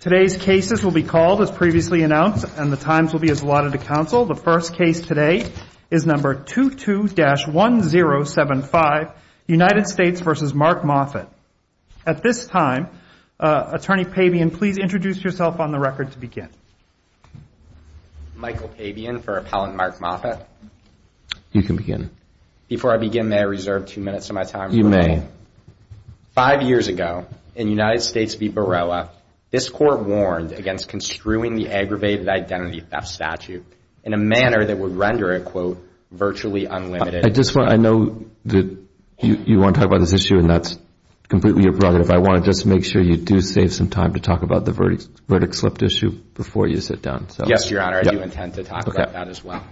Today's cases will be called, as previously announced, and the times will be as allotted to counsel. The first case today is number 22-1075, United States v. Mark Moffett. At this time, Attorney Pabian, please introduce yourself on the record to begin. Michael Pabian for Appellant Mark Moffett. You can begin. Before I begin, may I reserve two minutes of my time? You may. Five years ago, in United States v. Barilla, this Court warned against construing the aggravated identity theft statute in a manner that would render it, quote, virtually unlimited. I just want, I know that you want to talk about this issue, and that's completely your prerogative. I want to just make sure you do save some time to talk about the verdict slipped issue before you sit down. Yes, Your Honor, I do intend to talk about that as well.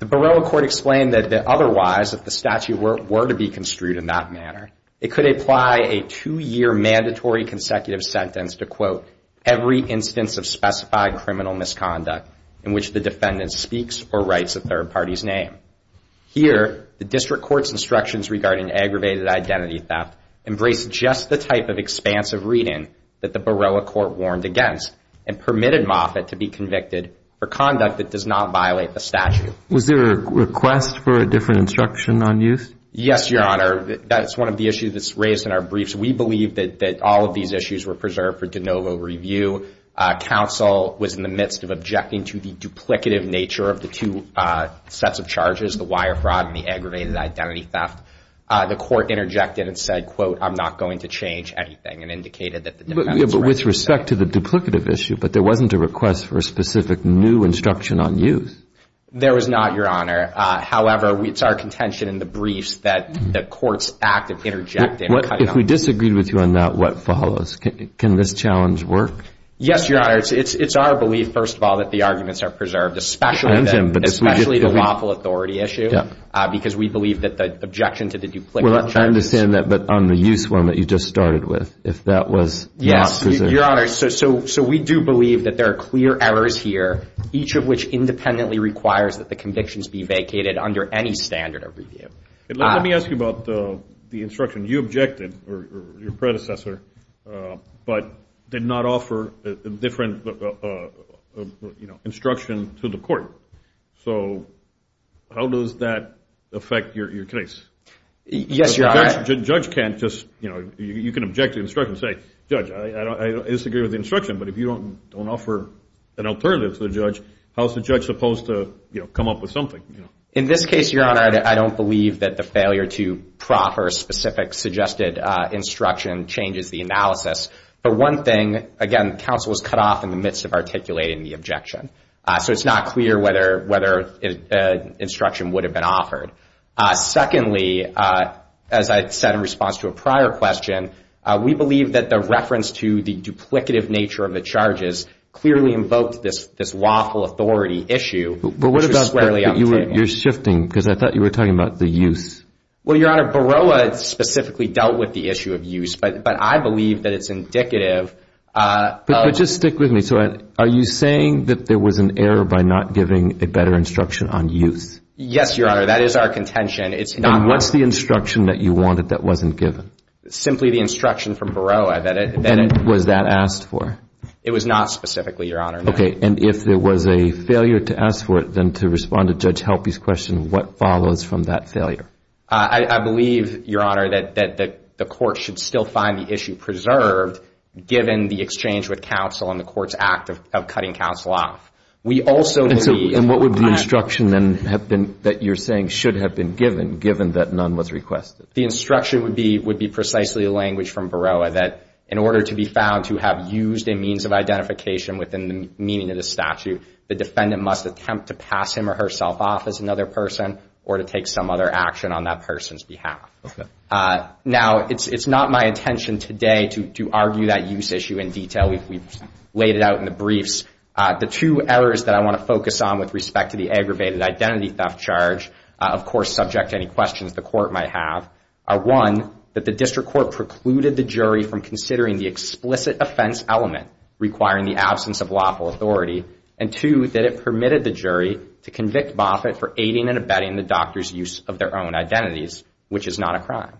The Barilla Court explained that otherwise, if the statute were to be construed in that manner, it could apply a two-year mandatory consecutive sentence to, quote, every instance of specified criminal misconduct in which the defendant speaks or writes a third party's name. Here, the District Court's instructions regarding aggravated identity theft embrace just the type of expansive reading that the Barilla Court warned against and permitted Moffitt to be convicted for conduct that does not violate the statute. Was there a request for a different instruction on use? Yes, Your Honor. That's one of the issues that's raised in our briefs. We believe that all of these issues were preserved for de novo review. Counsel was in the midst of objecting to the duplicative nature of the two sets of charges, the wire fraud and the aggravated identity theft. The Court interjected and said, quote, I'm not going to change anything, and indicated that the defendant's rights. Yeah, but with respect to the duplicative issue, but there wasn't a request for a specific new instruction on use. There was not, Your Honor. However, it's our contention in the briefs that the Court's active interjecting. If we disagreed with you on that, what follows? Can this challenge work? Yes, Your Honor. It's our belief, first of all, that the arguments are preserved, especially the lawful authority issue, because we believe that the objection to the duplicative charges. I understand that, but on the use one that you just started with, if that was preserved. Yes, Your Honor. So we do believe that there are clear errors here, each of which independently requires that the convictions be vacated under any standard of review. Let me ask you about the instruction. You objected, or your predecessor, but did not offer a different instruction to the Court. So how does that affect your case? Yes, Your Honor. The judge can't just, you know, you can object to the instruction and say, Judge, I disagree with the instruction, but if you don't offer an alternative to the judge, how is the judge supposed to, you know, come up with something? In this case, Your Honor, I don't believe that the failure to proffer a specific suggested instruction changes the analysis. But one thing, again, counsel was cut off in the midst of articulating the objection. So it's not clear whether instruction would have been offered. Secondly, as I said in response to a prior question, we believe that the reference to the duplicative nature of the charges clearly invoked this lawful authority issue. But what about, you're shifting, because I thought you were talking about the use. Well, Your Honor, Baroah specifically dealt with the issue of use, but I believe that it's indicative of. But just stick with me. So are you saying that there was an error by not giving a better instruction on use? Yes, Your Honor. That is our contention. And what's the instruction that you wanted that wasn't given? Simply the instruction from Baroah. And was that asked for? It was not specifically, Your Honor. Okay. And if there was a failure to ask for it, then to respond to Judge Helpy's question, what follows from that failure? I believe, Your Honor, that the court should still find the issue preserved, given the exchange with counsel and the court's act of cutting counsel off. And what would the instruction then have been that you're saying should have been given, given that none was requested? The instruction would be precisely the language from Baroah that in order to be found to have used a means of identification within the meaning of the statute, the defendant must attempt to pass him or herself off as another person or to take some other action on that person's behalf. Now, it's not my intention today to argue that use issue in detail. We've laid it out in the briefs. The two errors that I want to focus on with respect to the aggravated identity theft charge, of course, subject to any questions the court might have, are, one, that the district court precluded the jury from considering the explicit offense element requiring the absence of lawful authority, and, two, that it permitted the jury to convict Moffitt for aiding and abetting the doctor's use of their own identities, which is not a crime.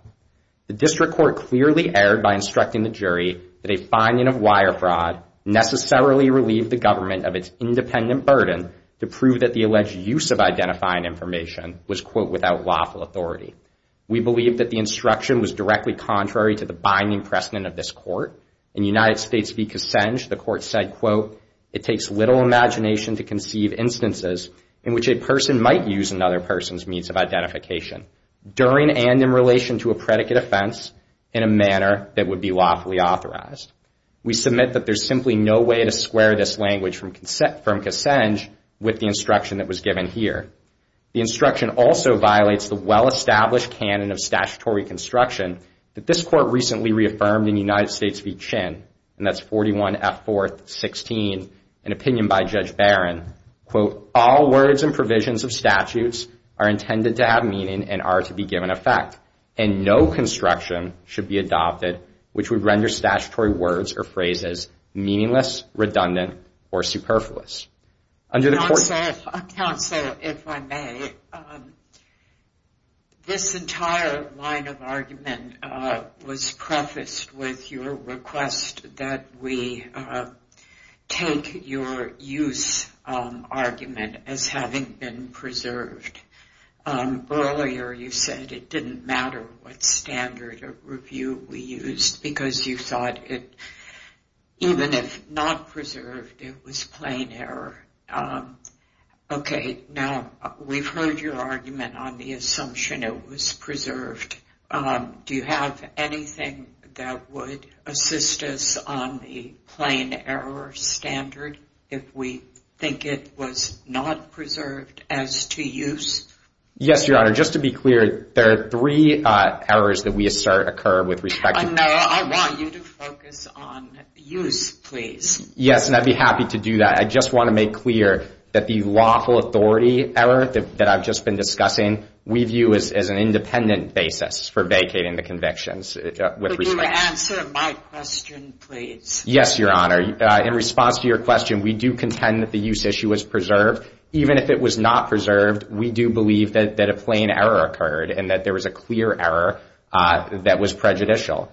The district court clearly erred by instructing the jury that a finding of wire fraud necessarily relieved the government of its independent burden to prove that the alleged use of identifying information was, quote, without lawful authority. We believe that the instruction was directly contrary to the binding precedent of this court. In United States v. Kassenj, the court said, quote, it takes little imagination to conceive instances in which a person might use another person's means of identification. During and in relation to a predicate offense in a manner that would be lawfully authorized. We submit that there's simply no way to square this language from Kassenj with the instruction that was given here. The instruction also violates the well-established canon of statutory construction that this court recently reaffirmed in United States v. Chin, and that's 41F416, an opinion by Judge Barron, quote, all words and provisions of statutes are intended to have meaning and are to be given effect, and no construction should be adopted which would render statutory words or phrases meaningless, redundant, or superfluous. Counsel, if I may. This entire line of argument was prefaced with your request that we take your use argument as having been preserved. Earlier you said it didn't matter what standard of review we used, because you thought it, even if not preserved, it was plain error. Okay. Now, we've heard your argument on the assumption it was preserved. Do you have anything that would assist us on the plain error standard if we think it was not preserved as to use? Yes, Your Honor. Your Honor, just to be clear, there are three errors that we assert occur with respect to- No, I want you to focus on use, please. Yes, and I'd be happy to do that. I just want to make clear that the lawful authority error that I've just been discussing we view as an independent basis for vacating the convictions. Would you answer my question, please? Yes, Your Honor. In response to your question, we do contend that the use issue was preserved. Even if it was not preserved, we do believe that a plain error occurred and that there was a clear error that was prejudicial.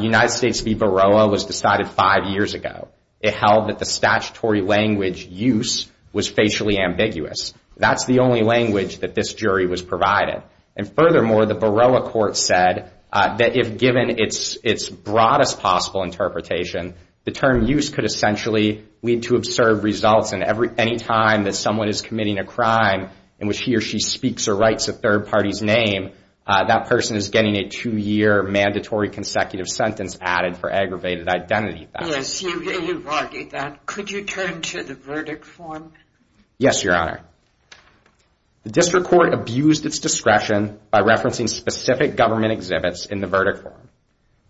United States v. Baroa was decided five years ago. It held that the statutory language, use, was facially ambiguous. That's the only language that this jury was provided. And furthermore, the Baroa court said that if given its broadest possible interpretation, the term use could essentially lead to absurd results. And any time that someone is committing a crime in which he or she speaks or writes a third party's name, that person is getting a two-year mandatory consecutive sentence added for aggravated identity theft. Yes, you've argued that. Could you turn to the verdict form? Yes, Your Honor. The district court abused its discretion by referencing specific government exhibits in the verdict form.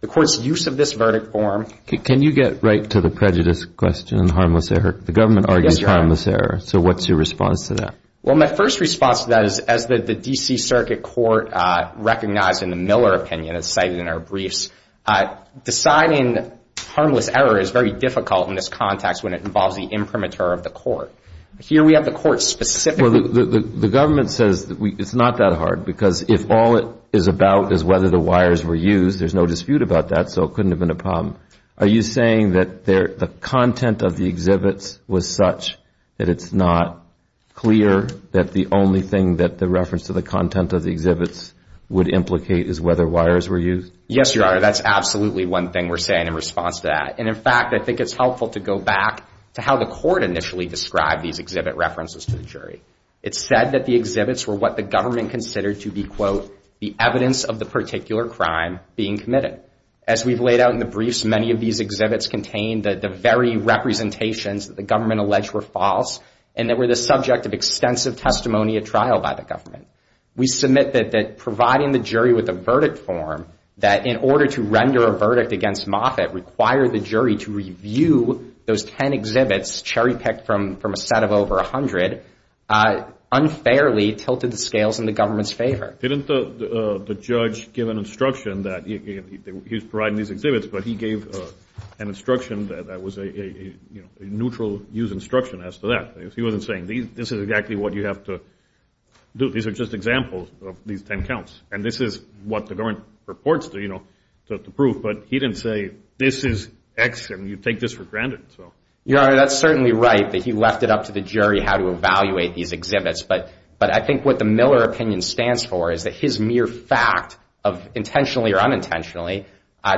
The court's use of this verdict form. Can you get right to the prejudice question, harmless error? The government argues harmless error. Yes, Your Honor. So what's your response to that? Well, my first response to that is as the D.C. Circuit Court recognized in the Miller opinion as cited in our briefs, deciding harmless error is very difficult in this context when it involves the imprimatur of the court. Here we have the court specifically. Well, the government says it's not that hard because if all it is about is whether the wires were used, there's no dispute about that, so it couldn't have been a problem. Are you saying that the content of the exhibits was such that it's not clear that the only thing that the reference to the content of the exhibits would implicate is whether wires were used? Yes, Your Honor. That's absolutely one thing we're saying in response to that. And, in fact, I think it's helpful to go back to how the court initially described these exhibit references to the jury. It said that the exhibits were what the government considered to be, quote, the evidence of the particular crime being committed. As we've laid out in the briefs, many of these exhibits contain the very representations that the government alleged were false and that were the subject of extensive testimony at trial by the government. We submit that providing the jury with a verdict form, that in order to render a verdict against Moffitt, require the jury to review those 10 exhibits cherry-picked from a set of over 100, unfairly tilted the scales in the government's favor. Didn't the judge give an instruction that he was providing these exhibits, but he gave an instruction that was a neutral use instruction as to that. He wasn't saying this is exactly what you have to do. These are just examples of these 10 counts, and this is what the government purports to prove. But he didn't say this is X, and you take this for granted. Your Honor, that's certainly right that he left it up to the jury how to evaluate these exhibits. But I think what the Miller opinion stands for is that his mere fact of intentionally or unintentionally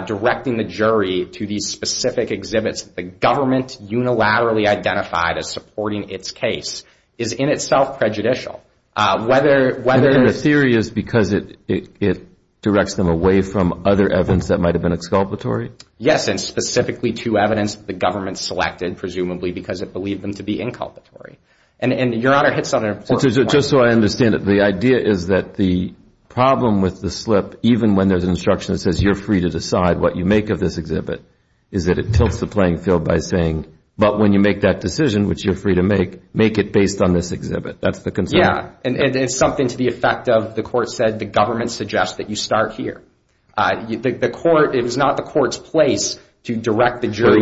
directing the jury to these specific exhibits the government unilaterally identified as supporting its case is in itself prejudicial. And the theory is because it directs them away from other evidence that might have been exculpatory? Yes, and specifically to evidence the government selected presumably because it believed them to be inculpatory. And Your Honor hits on an important point. Just so I understand it, the idea is that the problem with the slip, even when there's instruction that says you're free to decide what you make of this exhibit, is that it tilts the playing field by saying, but when you make that decision, which you're free to make, make it based on this exhibit. That's the concern. Yeah, and it's something to the effect of the court said the government suggests that you start here. The court, it was not the court's place to direct the jury.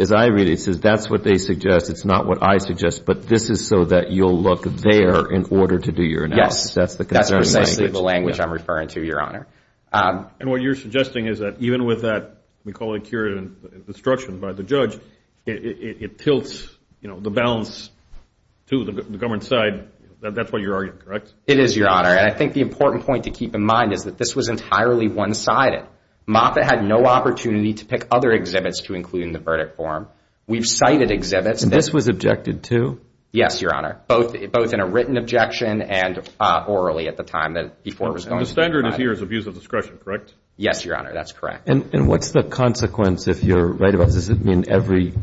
As I read it, it says that's what they suggest, it's not what I suggest, but this is so that you'll look there in order to do your analysis. Yes, that's precisely the language I'm referring to, Your Honor. And what you're suggesting is that even with that, we call it curative instruction by the judge, it tilts the balance to the government's side. That's what you're arguing, correct? It is, Your Honor. And I think the important point to keep in mind is that this was entirely one-sided. Moffitt had no opportunity to pick other exhibits to include in the verdict form. We've cited exhibits. And this was objected to? Yes, Your Honor, both in a written objection and orally at the time before it was going to be filed. The standard here is abuse of discretion, correct? Yes, Your Honor, that's correct. And what's the consequence if you're right about this? Does it mean every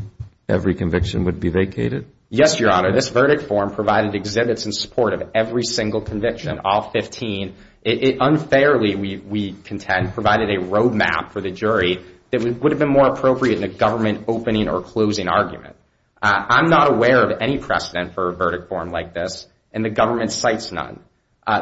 conviction would be vacated? Yes, Your Honor. This verdict form provided exhibits in support of every single conviction, all 15. It unfairly, we contend, provided a road map for the jury that would have been more appropriate in a government opening or closing argument. I'm not aware of any precedent for a verdict form like this, and the government cites none.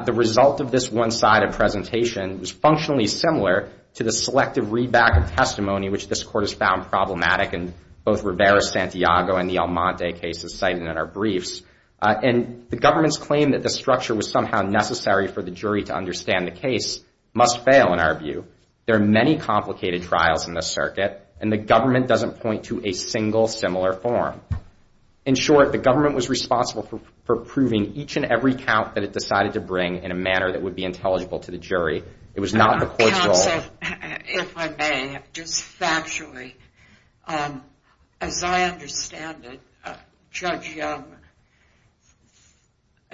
The result of this one-sided presentation was functionally similar to the selective readback and testimony which this Court has found problematic in both Rivera-Santiago and the Almonte cases cited in our briefs. And the government's claim that the structure was somehow necessary for the jury to understand the case must fail in our view. There are many complicated trials in this circuit, and the government doesn't point to a single similar form. In short, the government was responsible for proving each and every count that it decided to bring in a manner that would be intelligible to the jury. It was not the Court's role. Counsel, if I may, just factually, as I understand it, Judge Young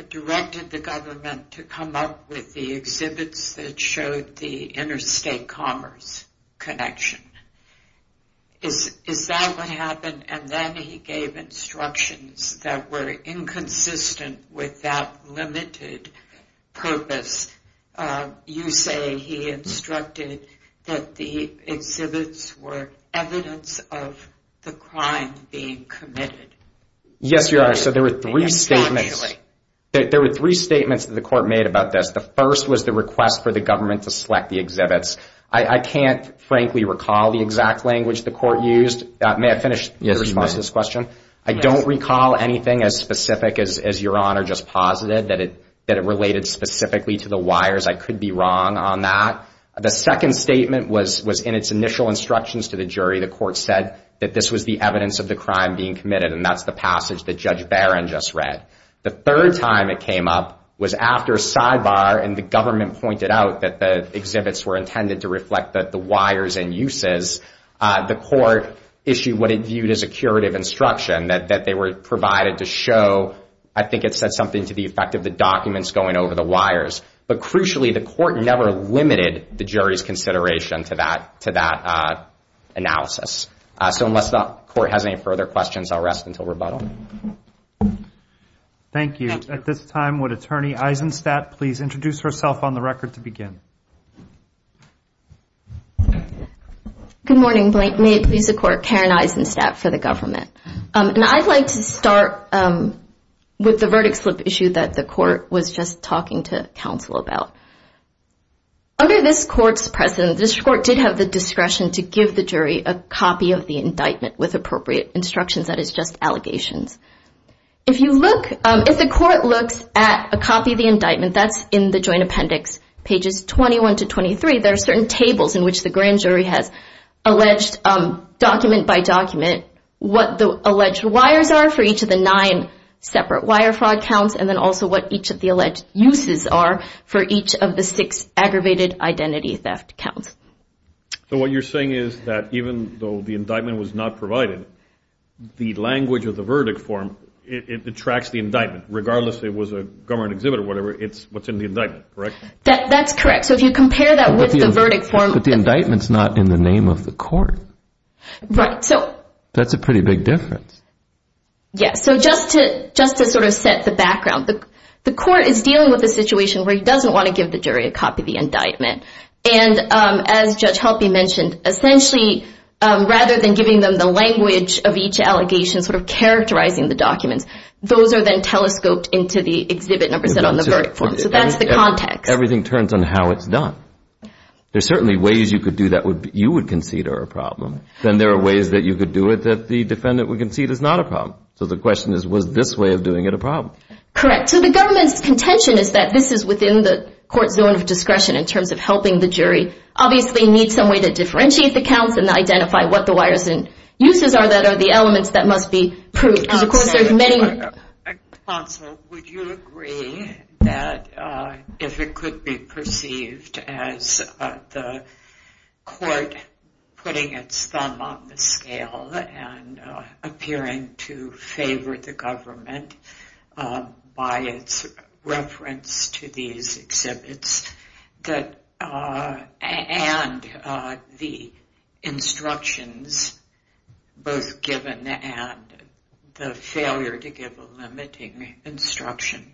directed the government to come up with the exhibits that showed the interstate commerce connection. Is that what happened? And then he gave instructions that were inconsistent with that limited purpose. You say he instructed that the exhibits were evidence of the crime being committed. Yes, Your Honor. So there were three statements. Factually. There were three statements that the Court made about this. The first was the request for the government to select the exhibits. I can't frankly recall the exact language the Court used. May I finish your response to this question? Yes, you may. I don't recall anything as specific as Your Honor just posited, that it related specifically to the wires. I could be wrong on that. The second statement was in its initial instructions to the jury. The Court said that this was the evidence of the crime being committed, and that's the passage that Judge Barron just read. The third time it came up was after Sidebar and the government pointed out that the exhibits were intended to reflect the wires and uses. The Court issued what it viewed as a curative instruction that they were provided to show. I think it said something to the effect of the documents going over the wires. But crucially, the Court never limited the jury's consideration to that analysis. So unless the Court has any further questions, I'll rest until rebuttal. Thank you. At this time, would Attorney Eisenstadt please introduce herself on the record to begin? Good morning. May it please the Court, Karen Eisenstadt for the government. I'd like to start with the verdict slip issue that the Court was just talking to counsel about. Under this Court's precedent, this Court did have the discretion to give the jury a copy of the indictment with appropriate instructions, that is, just allegations. If the Court looks at a copy of the indictment, that's in the Joint Appendix, pages 21 to 23, there are certain tables in which the grand jury has alleged document by document what the alleged wires are for each of the nine separate wire fraud counts and then also what each of the alleged uses are for each of the six aggravated identity theft counts. So what you're saying is that even though the indictment was not provided, the language of the verdict form, it detracts the indictment, regardless if it was a government exhibit or whatever, it's what's in the indictment, correct? That's correct. So if you compare that with the verdict form... But the indictment's not in the name of the Court. Right, so... That's a pretty big difference. Yes. So just to sort of set the background, the Court is dealing with a situation where it doesn't want to give the jury a copy of the indictment. And as Judge Helpe mentioned, essentially, rather than giving them the language of each allegation, sort of characterizing the documents, those are then telescoped into the exhibit numbers that are on the verdict form. So that's the context. Everything turns on how it's done. There's certainly ways you could do that you would concede are a problem. Then there are ways that you could do it that the defendant would concede is not a problem. So the question is, was this way of doing it a problem? Correct. So the government's contention is that this is within the Court's zone of discretion in terms of helping the jury obviously need some way to differentiate the counts and identify what the wires and uses are that are the elements that must be proved. Because, of course, there's many... Counsel, would you agree that if it could be perceived as the Court putting its thumb on the scale and appearing to favor the government by its reference to these exhibits and the instructions both given and the failure to give a limiting instruction,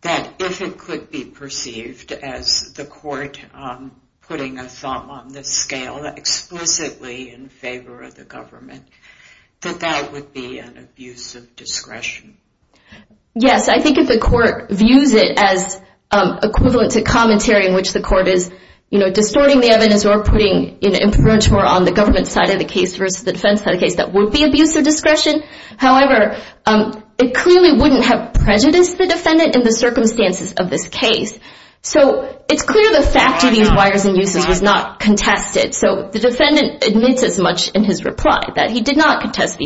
that if it could be perceived as the Court putting a thumb on the scale explicitly in favor of the government, that that would be an abuse of discretion? Yes, I think if the Court views it as equivalent to commentary in which the Court is distorting the evidence or putting influence more on the government side of the case versus the defense side of the case, that would be abuse of discretion. However, it clearly wouldn't have prejudiced the defendant in the circumstances of this case. So it's clear the fact of these wires and uses was not contested. So the defendant admits as much in his reply that he did not contest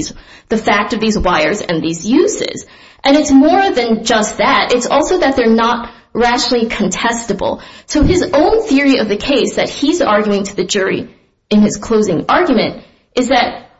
the fact of these wires and these uses. And it's more than just that. It's also that they're not rationally contestable. So his own theory of the case that he's arguing to the jury in his closing argument is that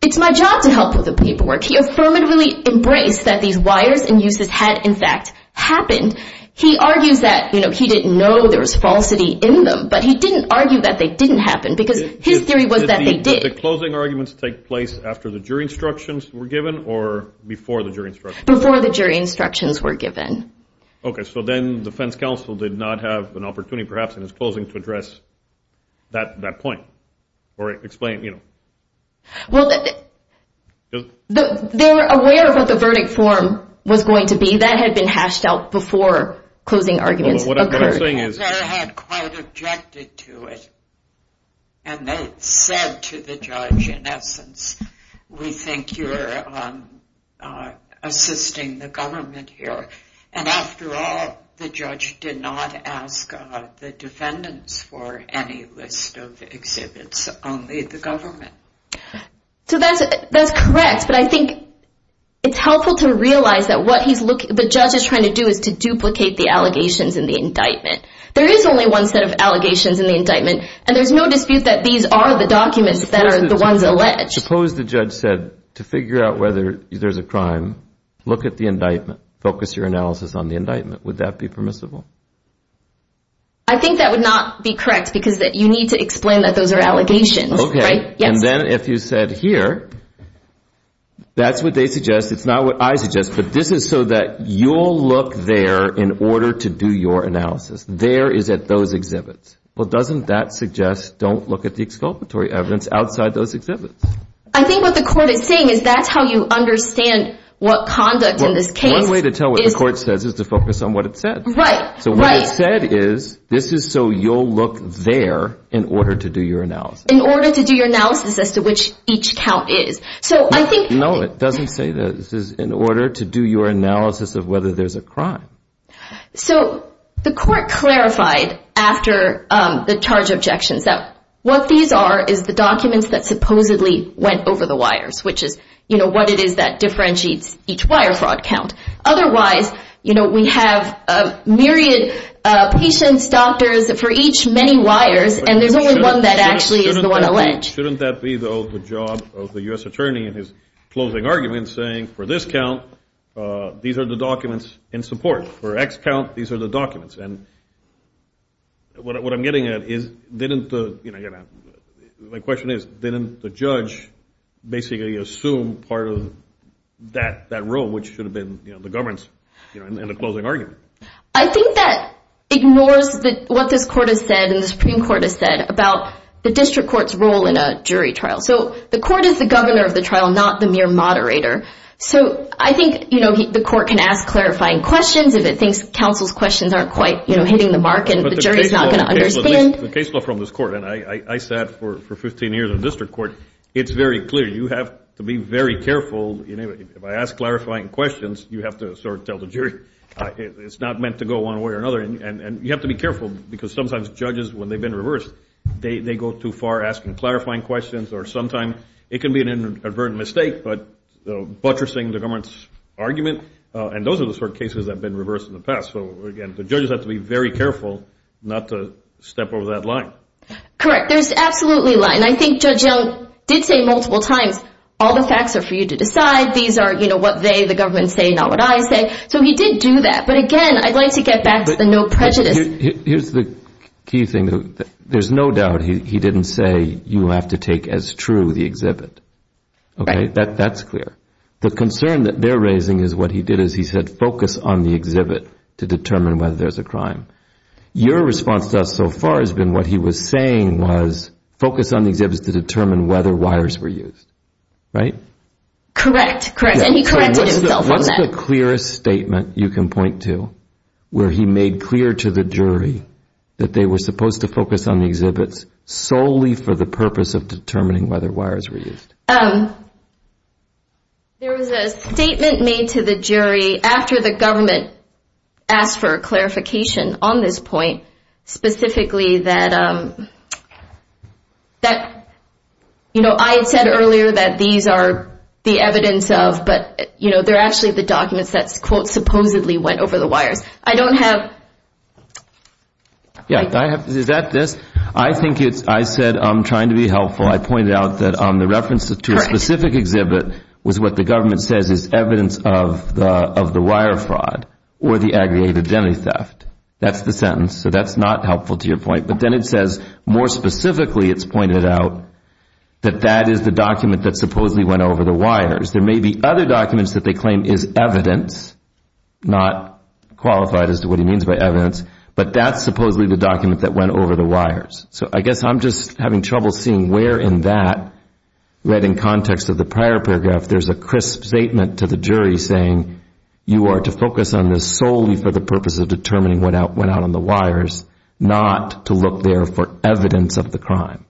it's my job to help with the paperwork. He affirmatively embraced that these wires and uses had, in fact, happened. He argues that he didn't know there was falsity in them, but he didn't argue that they didn't happen because his theory was that they did. Did the closing arguments take place after the jury instructions were given or before the jury instructions? Before the jury instructions were given. Okay, so then the defense counsel did not have an opportunity perhaps in his closing to address that point or explain, you know. Well, they were aware of what the verdict form was going to be. That had been hashed out before closing arguments occurred. They had quite objected to it. And they said to the judge, in essence, we think you're assisting the government here. And after all, the judge did not ask the defendants for any list of exhibits, only the government. So that's correct, but I think it's helpful to realize that what the judge is trying to do is to duplicate the allegations in the indictment. There is only one set of allegations in the indictment, and there's no dispute that these are the documents that are the ones alleged. Suppose the judge said, to figure out whether there's a crime, look at the indictment. Focus your analysis on the indictment. Would that be permissible? I think that would not be correct because you need to explain that those are allegations. Okay. And then if you said here, that's what they suggest. It's not what I suggest, but this is so that you'll look there in order to do your analysis. There is at those exhibits. Well, doesn't that suggest don't look at the exculpatory evidence outside those exhibits? I think what the court is saying is that's how you understand what conduct in this case is. One way to tell what the court says is to focus on what it said. Right, right. So what it said is, this is so you'll look there in order to do your analysis. In order to do your analysis as to which each count is. No, it doesn't say this is in order to do your analysis of whether there's a crime. So the court clarified after the charge objections that what these are is the documents that supposedly went over the wires, which is, you know, what it is that differentiates each wire fraud count. Otherwise, you know, we have a myriad patients, doctors for each many wires, and there's only one that actually is the one alleged. Shouldn't that be, though, the job of the U.S. attorney in his closing argument saying, for this count, these are the documents in support. For X count, these are the documents. And what I'm getting at is, didn't the, you know, my question is, didn't the judge basically assume part of that rule, which should have been, you know, the government's, you know, in the closing argument. I think that ignores what this court has said and the Supreme Court has said about the district court's role in a jury trial. So the court is the governor of the trial, not the mere moderator. So I think, you know, the court can ask clarifying questions if it thinks counsel's questions aren't quite, you know, hitting the mark and the jury's not going to understand. The case law from this court, and I sat for 15 years in district court, it's very clear. You have to be very careful. If I ask clarifying questions, you have to sort of tell the jury it's not meant to go one way or another. And you have to be careful because sometimes judges, when they've been reversed, they go too far asking clarifying questions or sometimes it can be an inadvertent mistake, but buttressing the government's argument, and those are the sort of cases that have been reversed in the past. So, again, the judges have to be very careful not to step over that line. Correct. There's absolutely a line. And I think Judge Young did say multiple times, all the facts are for you to decide. These are, you know, what they, the government, say, not what I say. So he did do that. But, again, I'd like to get back to the no prejudice. Here's the key thing. There's no doubt he didn't say you have to take as true the exhibit. That's clear. The concern that they're raising is what he did is he said focus on the exhibit to determine whether there's a crime. Your response to us so far has been what he was saying was focus on the exhibits to determine whether wires were used. Right? Correct. Correct. And he corrected himself on that. What's the clearest statement you can point to where he made clear to the jury that they were supposed to focus on the exhibits solely for the purpose of determining whether wires were used? There was a statement made to the jury after the government asked for a clarification on this point, specifically that, you know, I had said earlier that these are the evidence of, but, you know, they're actually the documents that, quote, supposedly went over the wires. I don't have. Yeah, I have. Is that this? I think it's, I said I'm trying to be helpful. I pointed out that on the reference to a specific exhibit was what the government says is evidence of the wire fraud or the aggregated identity theft. That's the sentence. So that's not helpful to your point. But then it says more specifically it's pointed out that that is the document that supposedly went over the wires. There may be other documents that they claim is evidence, not qualified as to what he means by evidence, but that's supposedly the document that went over the wires. So I guess I'm just having trouble seeing where in that, where in context of the prior paragraph there's a crisp statement to the jury saying you are to focus on this solely for the purpose of determining what went out on the wires, not to look there for evidence of the crime.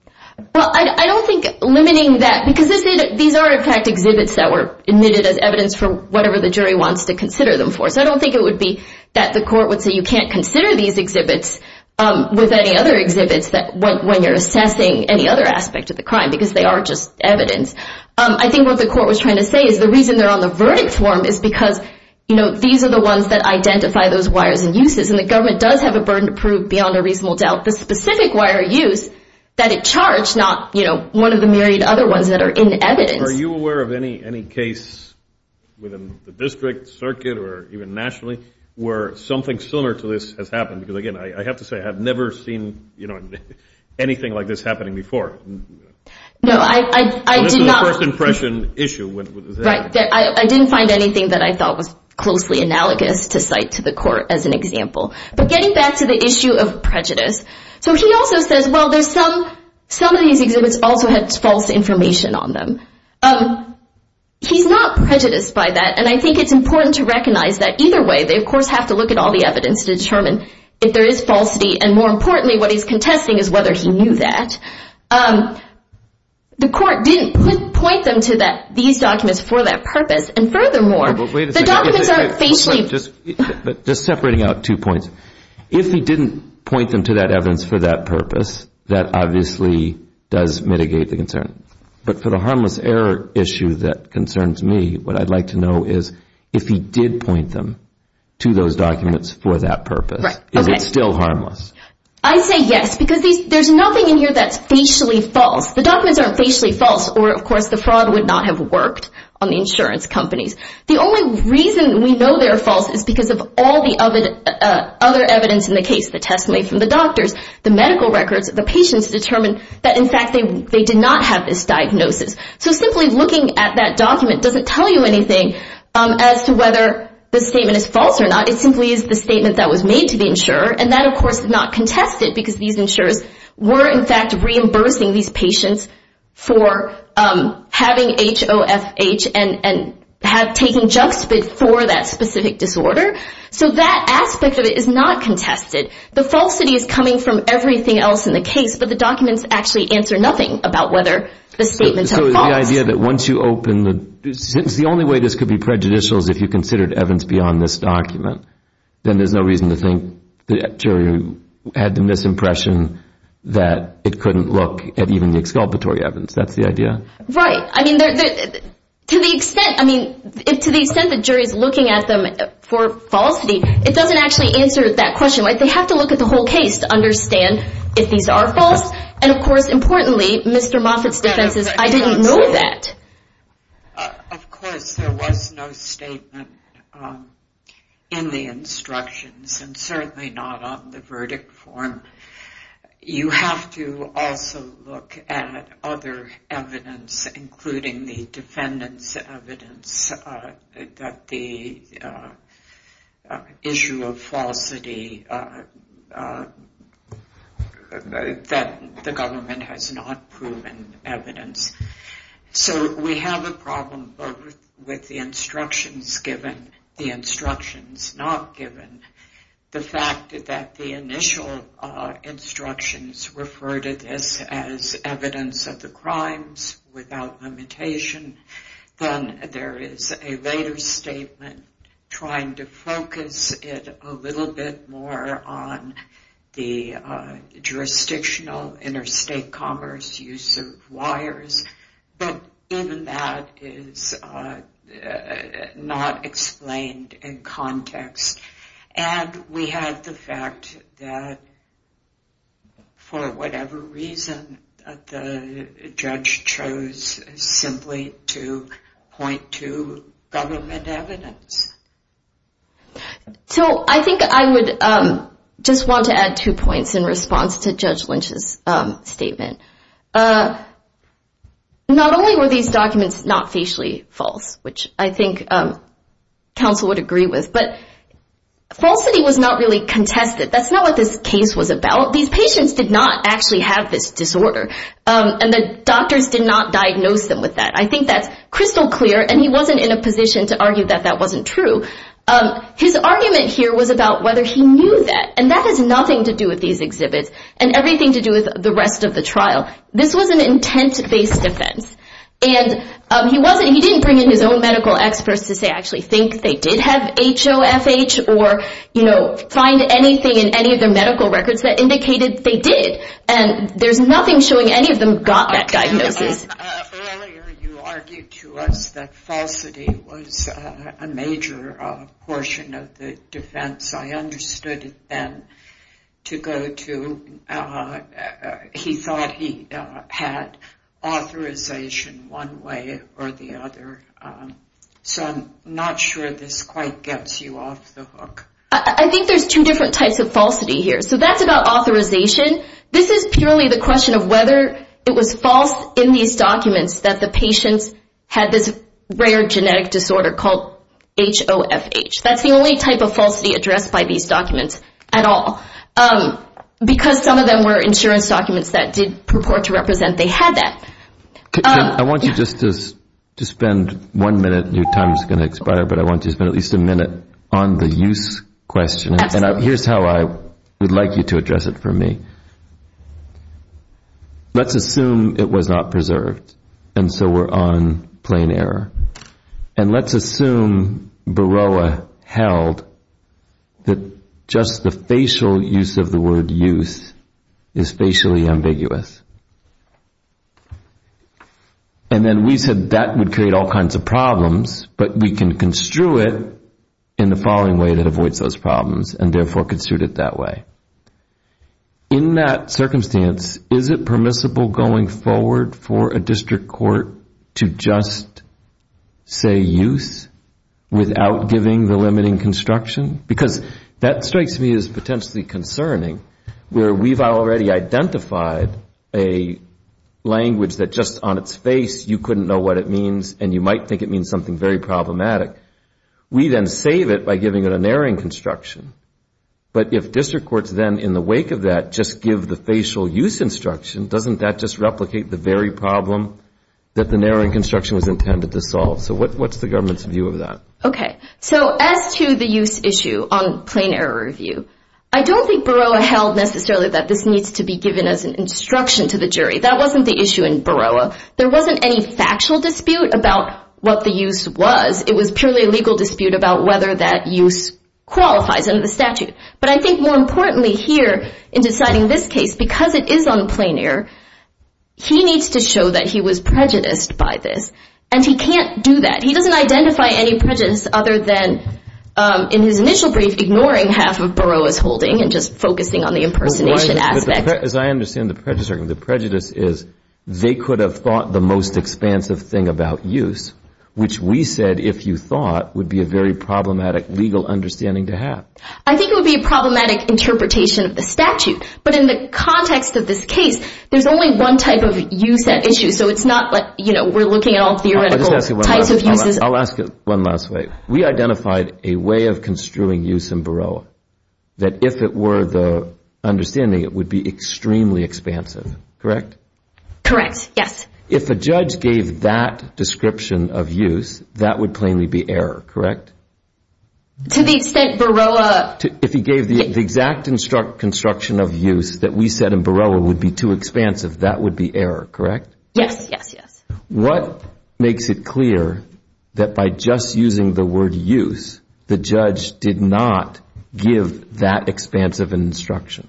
Well, I don't think limiting that, because these are, in fact, exhibits that were admitted as evidence for whatever the jury wants to consider them for. So I don't think it would be that the court would say you can't consider these exhibits with any other exhibits when you're assessing any other aspect of the crime, because they are just evidence. I think what the court was trying to say is the reason they're on the verdict form is because, you know, these are the ones that identify those wires and uses, and the government does have a burden to prove beyond a reasonable doubt the specific wire use that it charged, not, you know, one of the myriad other ones that are in evidence. Are you aware of any case within the district, circuit, or even nationally, where something similar to this has happened? Because, again, I have to say I have never seen, you know, anything like this happening before. No, I did not. It was a first impression issue. Right. I didn't find anything that I thought was closely analogous to cite to the court as an example. But getting back to the issue of prejudice, so he also says, well, there's some, some of these exhibits also had false information on them. He's not prejudiced by that, and I think it's important to recognize that either way they, of course, have to look at all the evidence to determine if there is falsity, and more importantly what he's contesting is whether he knew that. The court didn't point them to these documents for that purpose, and furthermore, the documents aren't facially. Just separating out two points. If he didn't point them to that evidence for that purpose, that obviously does mitigate the concern. But for the harmless error issue that concerns me, what I'd like to know is if he did point them to those documents for that purpose, is it still harmless? I say yes, because there's nothing in here that's facially false. The documents aren't facially false, or, of course, the fraud would not have worked on the insurance companies. The only reason we know they're false is because of all the other evidence in the case, the testimony from the doctors, the medical records, the patients determine that, in fact, they did not have this diagnosis. So simply looking at that document doesn't tell you anything as to whether the statement is false or not. It simply is the statement that was made to the insurer, and that, of course, is not contested because these insurers were, in fact, reimbursing these patients for having HOFH and taking junk spit for that specific disorder. So that aspect of it is not contested. The falsity is coming from everything else in the case, but the documents actually answer nothing about whether the statements are false. So the idea that once you open the – the only way this could be prejudicial is if you considered evidence beyond this document. Then there's no reason to think the jury had the misimpression that it couldn't look at even the exculpatory evidence. That's the idea? Right. I mean, to the extent the jury's looking at them for falsity, it doesn't actually answer that question, right? They have to look at the whole case to understand if these are false. And, of course, importantly, Mr. Moffitt's defense is, I didn't know that. Of course, there was no statement in the instructions and certainly not on the verdict form. You have to also look at other evidence, including the defendant's evidence, that the issue of falsity that the government has not proven evidence. So we have a problem both with the instructions given, the instructions not given, the fact that the initial instructions refer to this as evidence of the crimes without limitation. Then there is a later statement trying to focus it a little bit more on the jurisdictional interstate commerce use of wires. But even that is not explained in context. And we have the fact that, for whatever reason, the judge chose simply to point to government evidence. So I think I would just want to add two points in response to Judge Lynch's statement. Not only were these documents not facially false, which I think counsel would agree with, but falsity was not really contested. That's not what this case was about. These patients did not actually have this disorder, and the doctors did not diagnose them with that. I think that's crystal clear, and he wasn't in a position to argue that that wasn't true. His argument here was about whether he knew that, and that has nothing to do with these exhibits and everything to do with the rest of the trial. This was an intent-based defense, and he didn't bring in his own medical experts to say, I actually think they did have HOFH or find anything in any of their medical records that indicated they did. And there's nothing showing any of them got that diagnosis. Earlier you argued to us that falsity was a major portion of the defense. I understood it then to go to he thought he had authorization one way or the other. So I'm not sure this quite gets you off the hook. I think there's two different types of falsity here. So that's about authorization. This is purely the question of whether it was false in these documents that the patients had this rare genetic disorder called HOFH. That's the only type of falsity addressed by these documents at all, because some of them were insurance documents that did purport to represent they had that. I want you just to spend one minute. Your time is going to expire, but I want you to spend at least a minute on the use question. And here's how I would like you to address it for me. Let's assume it was not preserved, and so we're on plain error. And let's assume Baroa held that just the facial use of the word use is facially ambiguous. And then we said that would create all kinds of problems, but we can construe it in the following way that avoids those problems and therefore construe it that way. In that circumstance, is it permissible going forward for a district court to just say use without giving the limiting construction? Because that strikes me as potentially concerning, where we've already identified a language that just on its face you couldn't know what it means and you might think it means something very problematic. We then save it by giving it a narrowing construction. But if district courts then in the wake of that just give the facial use instruction, doesn't that just replicate the very problem that the narrowing construction was intended to solve? So what's the government's view of that? Okay. So as to the use issue on plain error review, I don't think Baroa held necessarily that this needs to be given as an instruction to the jury. That wasn't the issue in Baroa. There wasn't any factual dispute about what the use was. It was purely a legal dispute about whether that use qualifies under the statute. But I think more importantly here in deciding this case, because it is on plain error, he needs to show that he was prejudiced by this, and he can't do that. He doesn't identify any prejudice other than in his initial brief ignoring half of Baroa's holding and just focusing on the impersonation aspect. As I understand the prejudice, the prejudice is they could have thought the most expansive thing about use, which we said if you thought would be a very problematic legal understanding to have. I think it would be a problematic interpretation of the statute. But in the context of this case, there's only one type of use at issue. So it's not like, you know, we're looking at all theoretical types of uses. I'll ask it one last way. We identified a way of construing use in Baroa that if it were the understanding, it would be extremely expansive, correct? Correct, yes. If a judge gave that description of use, that would plainly be error, correct? To the extent Baroa— If he gave the exact construction of use that we said in Baroa would be too expansive, that would be error, correct? Yes, yes, yes. What makes it clear that by just using the word use, the judge did not give that expansive instruction?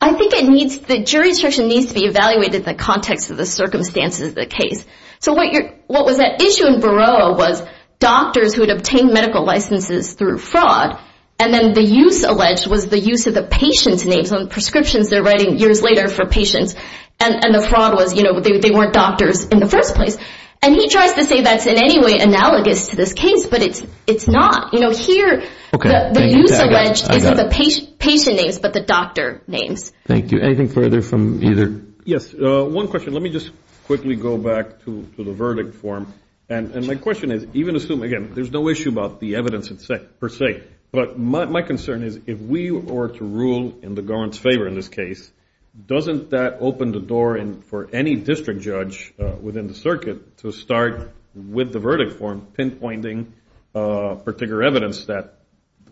I think it needs—the jury instruction needs to be evaluated in the context of the circumstances of the case. So what was at issue in Baroa was doctors who had obtained medical licenses through fraud, and then the use alleged was the use of the patient's names on prescriptions they're writing years later for patients. And the fraud was, you know, they weren't doctors in the first place. And he tries to say that's in any way analogous to this case, but it's not. You know, here, the use alleged isn't the patient names, but the doctor names. Thank you. Anything further from either— Yes, one question. Let me just quickly go back to the verdict form. And my question is, even assuming—again, there's no issue about the evidence per se, but my concern is if we were to rule in the government's favor in this case, doesn't that open the door for any district judge within the circuit to start with the verdict form, pinpointing particular evidence that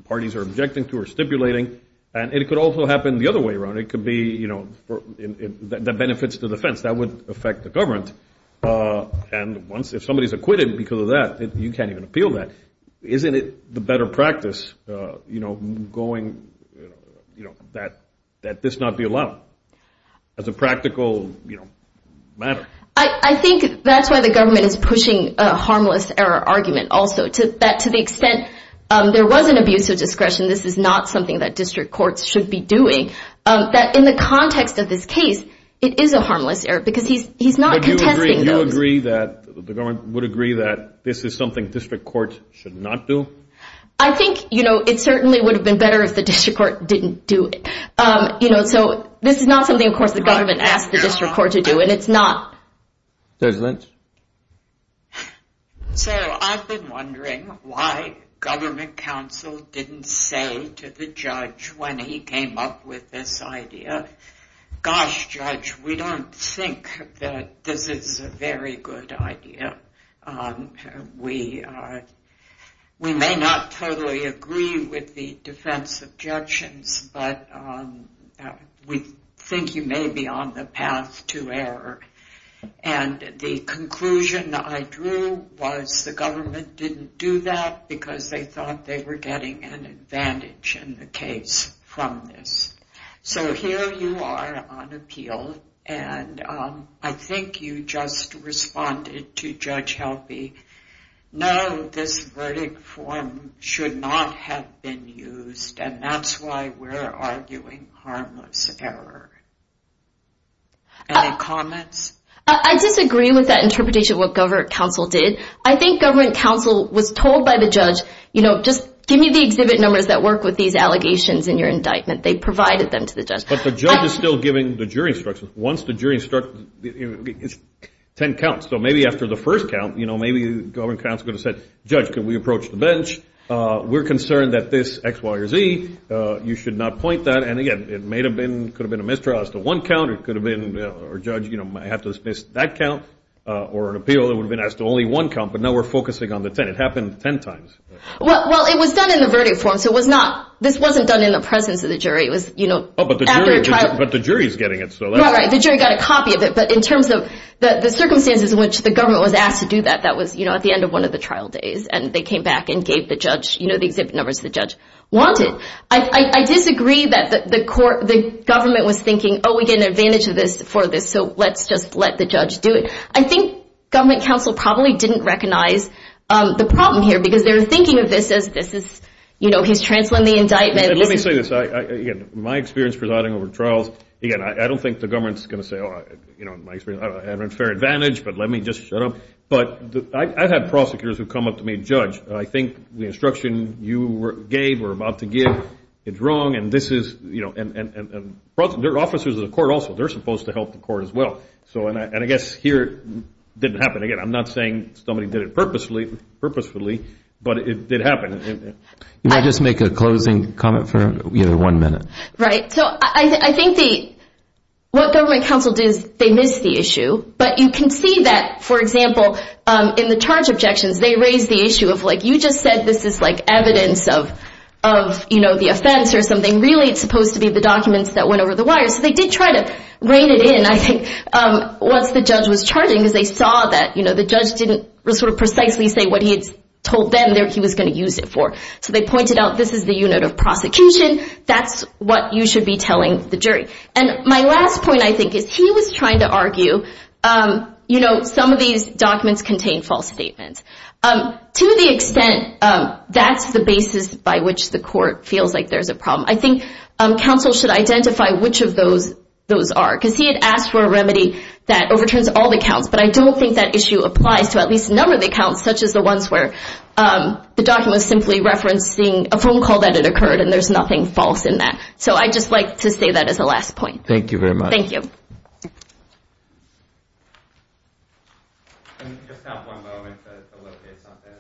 parties are objecting to or stipulating? And it could also happen the other way around. It could be, you know, that benefits the defense. That would affect the government. And if somebody's acquitted because of that, you can't even appeal that. Isn't it the better practice, you know, going, you know, that this not be allowed as a practical, you know, matter? I think that's why the government is pushing a harmless error argument also, that to the extent there was an abuse of discretion, this is not something that district courts should be doing, that in the context of this case, it is a harmless error because he's not contesting those. Do you agree that the government would agree that this is something district courts should not do? I think, you know, it certainly would have been better if the district court didn't do it. You know, so this is not something, of course, the government asked the district court to do, and it's not. Judge Lynch? So I've been wondering why government counsel didn't say to the judge when he came up with this idea, gosh, judge, we don't think that this is a very good idea. We may not totally agree with the defense objections, but we think you may be on the path to error. And the conclusion I drew was the government didn't do that because they thought they were getting an advantage in the case from this. So here you are on appeal, and I think you just responded to Judge Helpy. No, this verdict form should not have been used, and that's why we're arguing harmless error. Any comments? I disagree with that interpretation of what government counsel did. I think government counsel was told by the judge, you know, just give me the exhibit numbers that work with these allegations in your indictment. They provided them to the judge. But the judge is still giving the jury instructions. Once the jury instructs, it's ten counts. So maybe after the first count, you know, maybe government counsel could have said, judge, could we approach the bench? We're concerned that this X, Y, or Z. You should not point that. And again, it may have been, could have been a mistrial as to one count. It could have been our judge, you know, might have to dismiss that count, or an appeal that would have been asked to only one count. But now we're focusing on the ten. It happened ten times. Well, it was done in the verdict form, so it was not. This wasn't done in the presence of the jury. It was, you know, after a trial. But the jury is getting it. Right, right. The jury got a copy of it. But in terms of the circumstances in which the government was asked to do that, that was, you know, at the end of one of the trial days. And they came back and gave the judge, you know, the exhibit numbers the judge wanted. I disagree that the court, the government was thinking, oh, we get an advantage of this for this, so let's just let the judge do it. I think government counsel probably didn't recognize the problem here because they were thinking of this as this is, you know, he's transferring the indictment. Let me say this. Again, my experience presiding over trials, again, I don't think the government is going to say, oh, you know, in my experience, I have a fair advantage, but let me just shut up. But I've had prosecutors who come up to me and judge, I think the instruction you gave or about to give is wrong, and this is, you know, and there are officers in the court also. They're supposed to help the court as well. And I guess here it didn't happen. Again, I'm not saying somebody did it purposefully, but it did happen. Can I just make a closing comment for one minute? Right. So I think what government counsel did is they missed the issue, but you can see that, for example, in the charge objections, they raised the issue of like you just said this is like evidence of, you know, the offense or something. Really it's supposed to be the documents that went over the wires. So they did try to rein it in, I think, once the judge was charging because they saw that, you know, the judge didn't sort of precisely say what he had told them he was going to use it for. So they pointed out this is the unit of prosecution. That's what you should be telling the jury. And my last point, I think, is he was trying to argue, you know, some of these documents contain false statements. To the extent that's the basis by which the court feels like there's a problem, I think counsel should identify which of those those are because he had asked for a remedy that overturns all the counts, but I don't think that issue applies to at least a number of the counts such as the ones where the document was simply referencing a phone call that had occurred and there's nothing false in that. So I'd just like to say that as a last point. Thank you very much. Thank you. We just have one moment to locate something.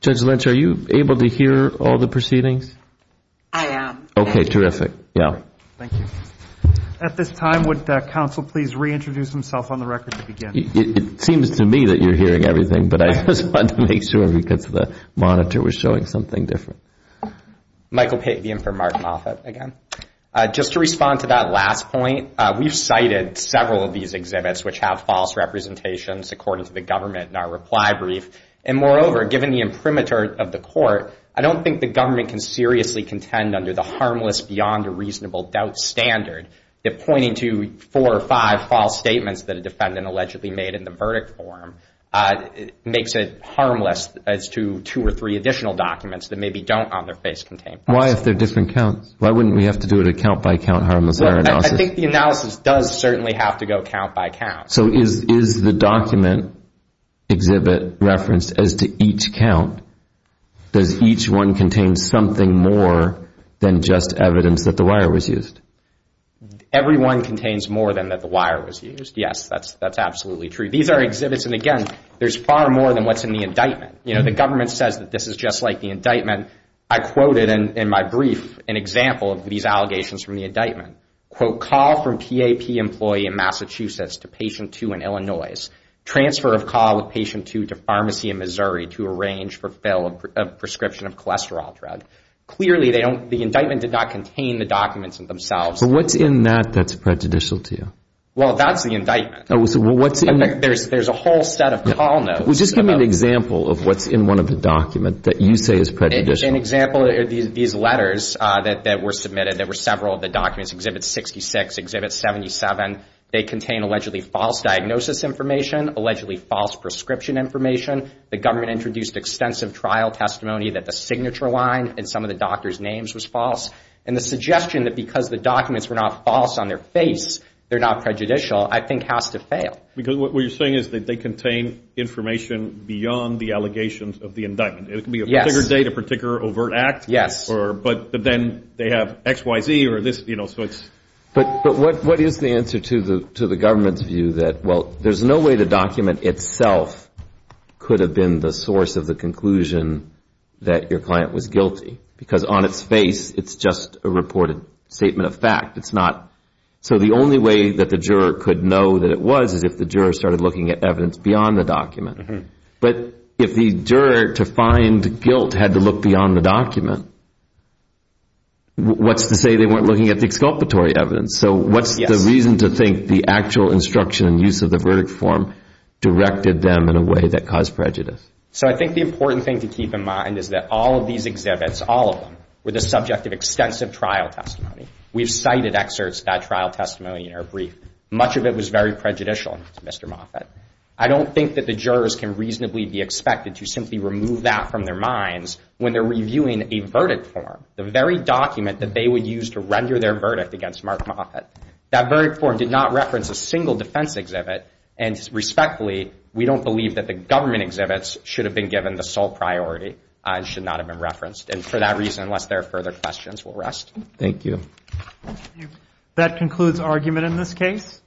Judge Lynch, are you able to hear all the proceedings? I am. Okay, terrific. Yeah. Thank you. At this time, would counsel please reintroduce himself on the record to begin? It seems to me that you're hearing everything, but I just wanted to make sure because the monitor was showing something different. Michael Patvian for Martin Moffitt again. Just to respond to that last point, we've cited several of these exhibits which have false representations according to the government in our reply brief, and moreover, given the imprimatur of the court, I don't think the government can seriously contend under the harmless beyond a reasonable doubt standard that pointing to four or five false statements that a defendant allegedly made in the verdict form makes it harmless as to two or three additional documents that maybe don't on their face contain false. Why if they're different counts? Why wouldn't we have to do it at count by count harmless? I think the analysis does certainly have to go count by count. So is the document exhibit referenced as to each count? Does each one contain something more than just evidence that the wire was used? Every one contains more than that the wire was used. Yes, that's absolutely true. These are exhibits, and again, there's far more than what's in the indictment. The government says that this is just like the indictment. I quoted in my brief an example of these allegations from the indictment. Quote, call from PAP employee in Massachusetts to patient two in Illinois. Transfer of call with patient two to pharmacy in Missouri to arrange for fill of prescription of cholesterol drug. Clearly, the indictment did not contain the documents themselves. What's in that that's prejudicial to you? Well, that's the indictment. There's a whole set of call notes. Just give me an example of what's in one of the documents that you say is prejudicial. There's an example of these letters that were submitted. There were several of the documents, exhibit 66, exhibit 77. They contain allegedly false diagnosis information, allegedly false prescription information. The government introduced extensive trial testimony that the signature line in some of the doctor's names was false. And the suggestion that because the documents were not false on their face, they're not prejudicial, I think has to fail. Because what you're saying is that they contain information beyond the allegations of the indictment. It can be a particular date, a particular overt act, but then they have XYZ or this, you know. But what is the answer to the government's view that, well, there's no way the document itself could have been the source of the conclusion that your client was guilty? Because on its face, it's just a reported statement of fact. It's not. So the only way that the juror could know that it was is if the juror started looking at evidence beyond the document. But if the juror, to find guilt, had to look beyond the document, what's to say they weren't looking at the exculpatory evidence? So what's the reason to think the actual instruction and use of the verdict form directed them in a way that caused prejudice? So I think the important thing to keep in mind is that all of these exhibits, all of them, were the subject of extensive trial testimony. We've cited excerpts of that trial testimony in our brief. Much of it was very prejudicial to Mr. Moffitt. I don't think that the jurors can reasonably be expected to simply remove that from their minds when they're reviewing a verdict form, the very document that they would use to render their verdict against Mark Moffitt. That very form did not reference a single defense exhibit. And respectfully, we don't believe that the government exhibits should have been given the sole priority and should not have been referenced. And for that reason, unless there are further questions, we'll rest. Thank you. That concludes argument in this case.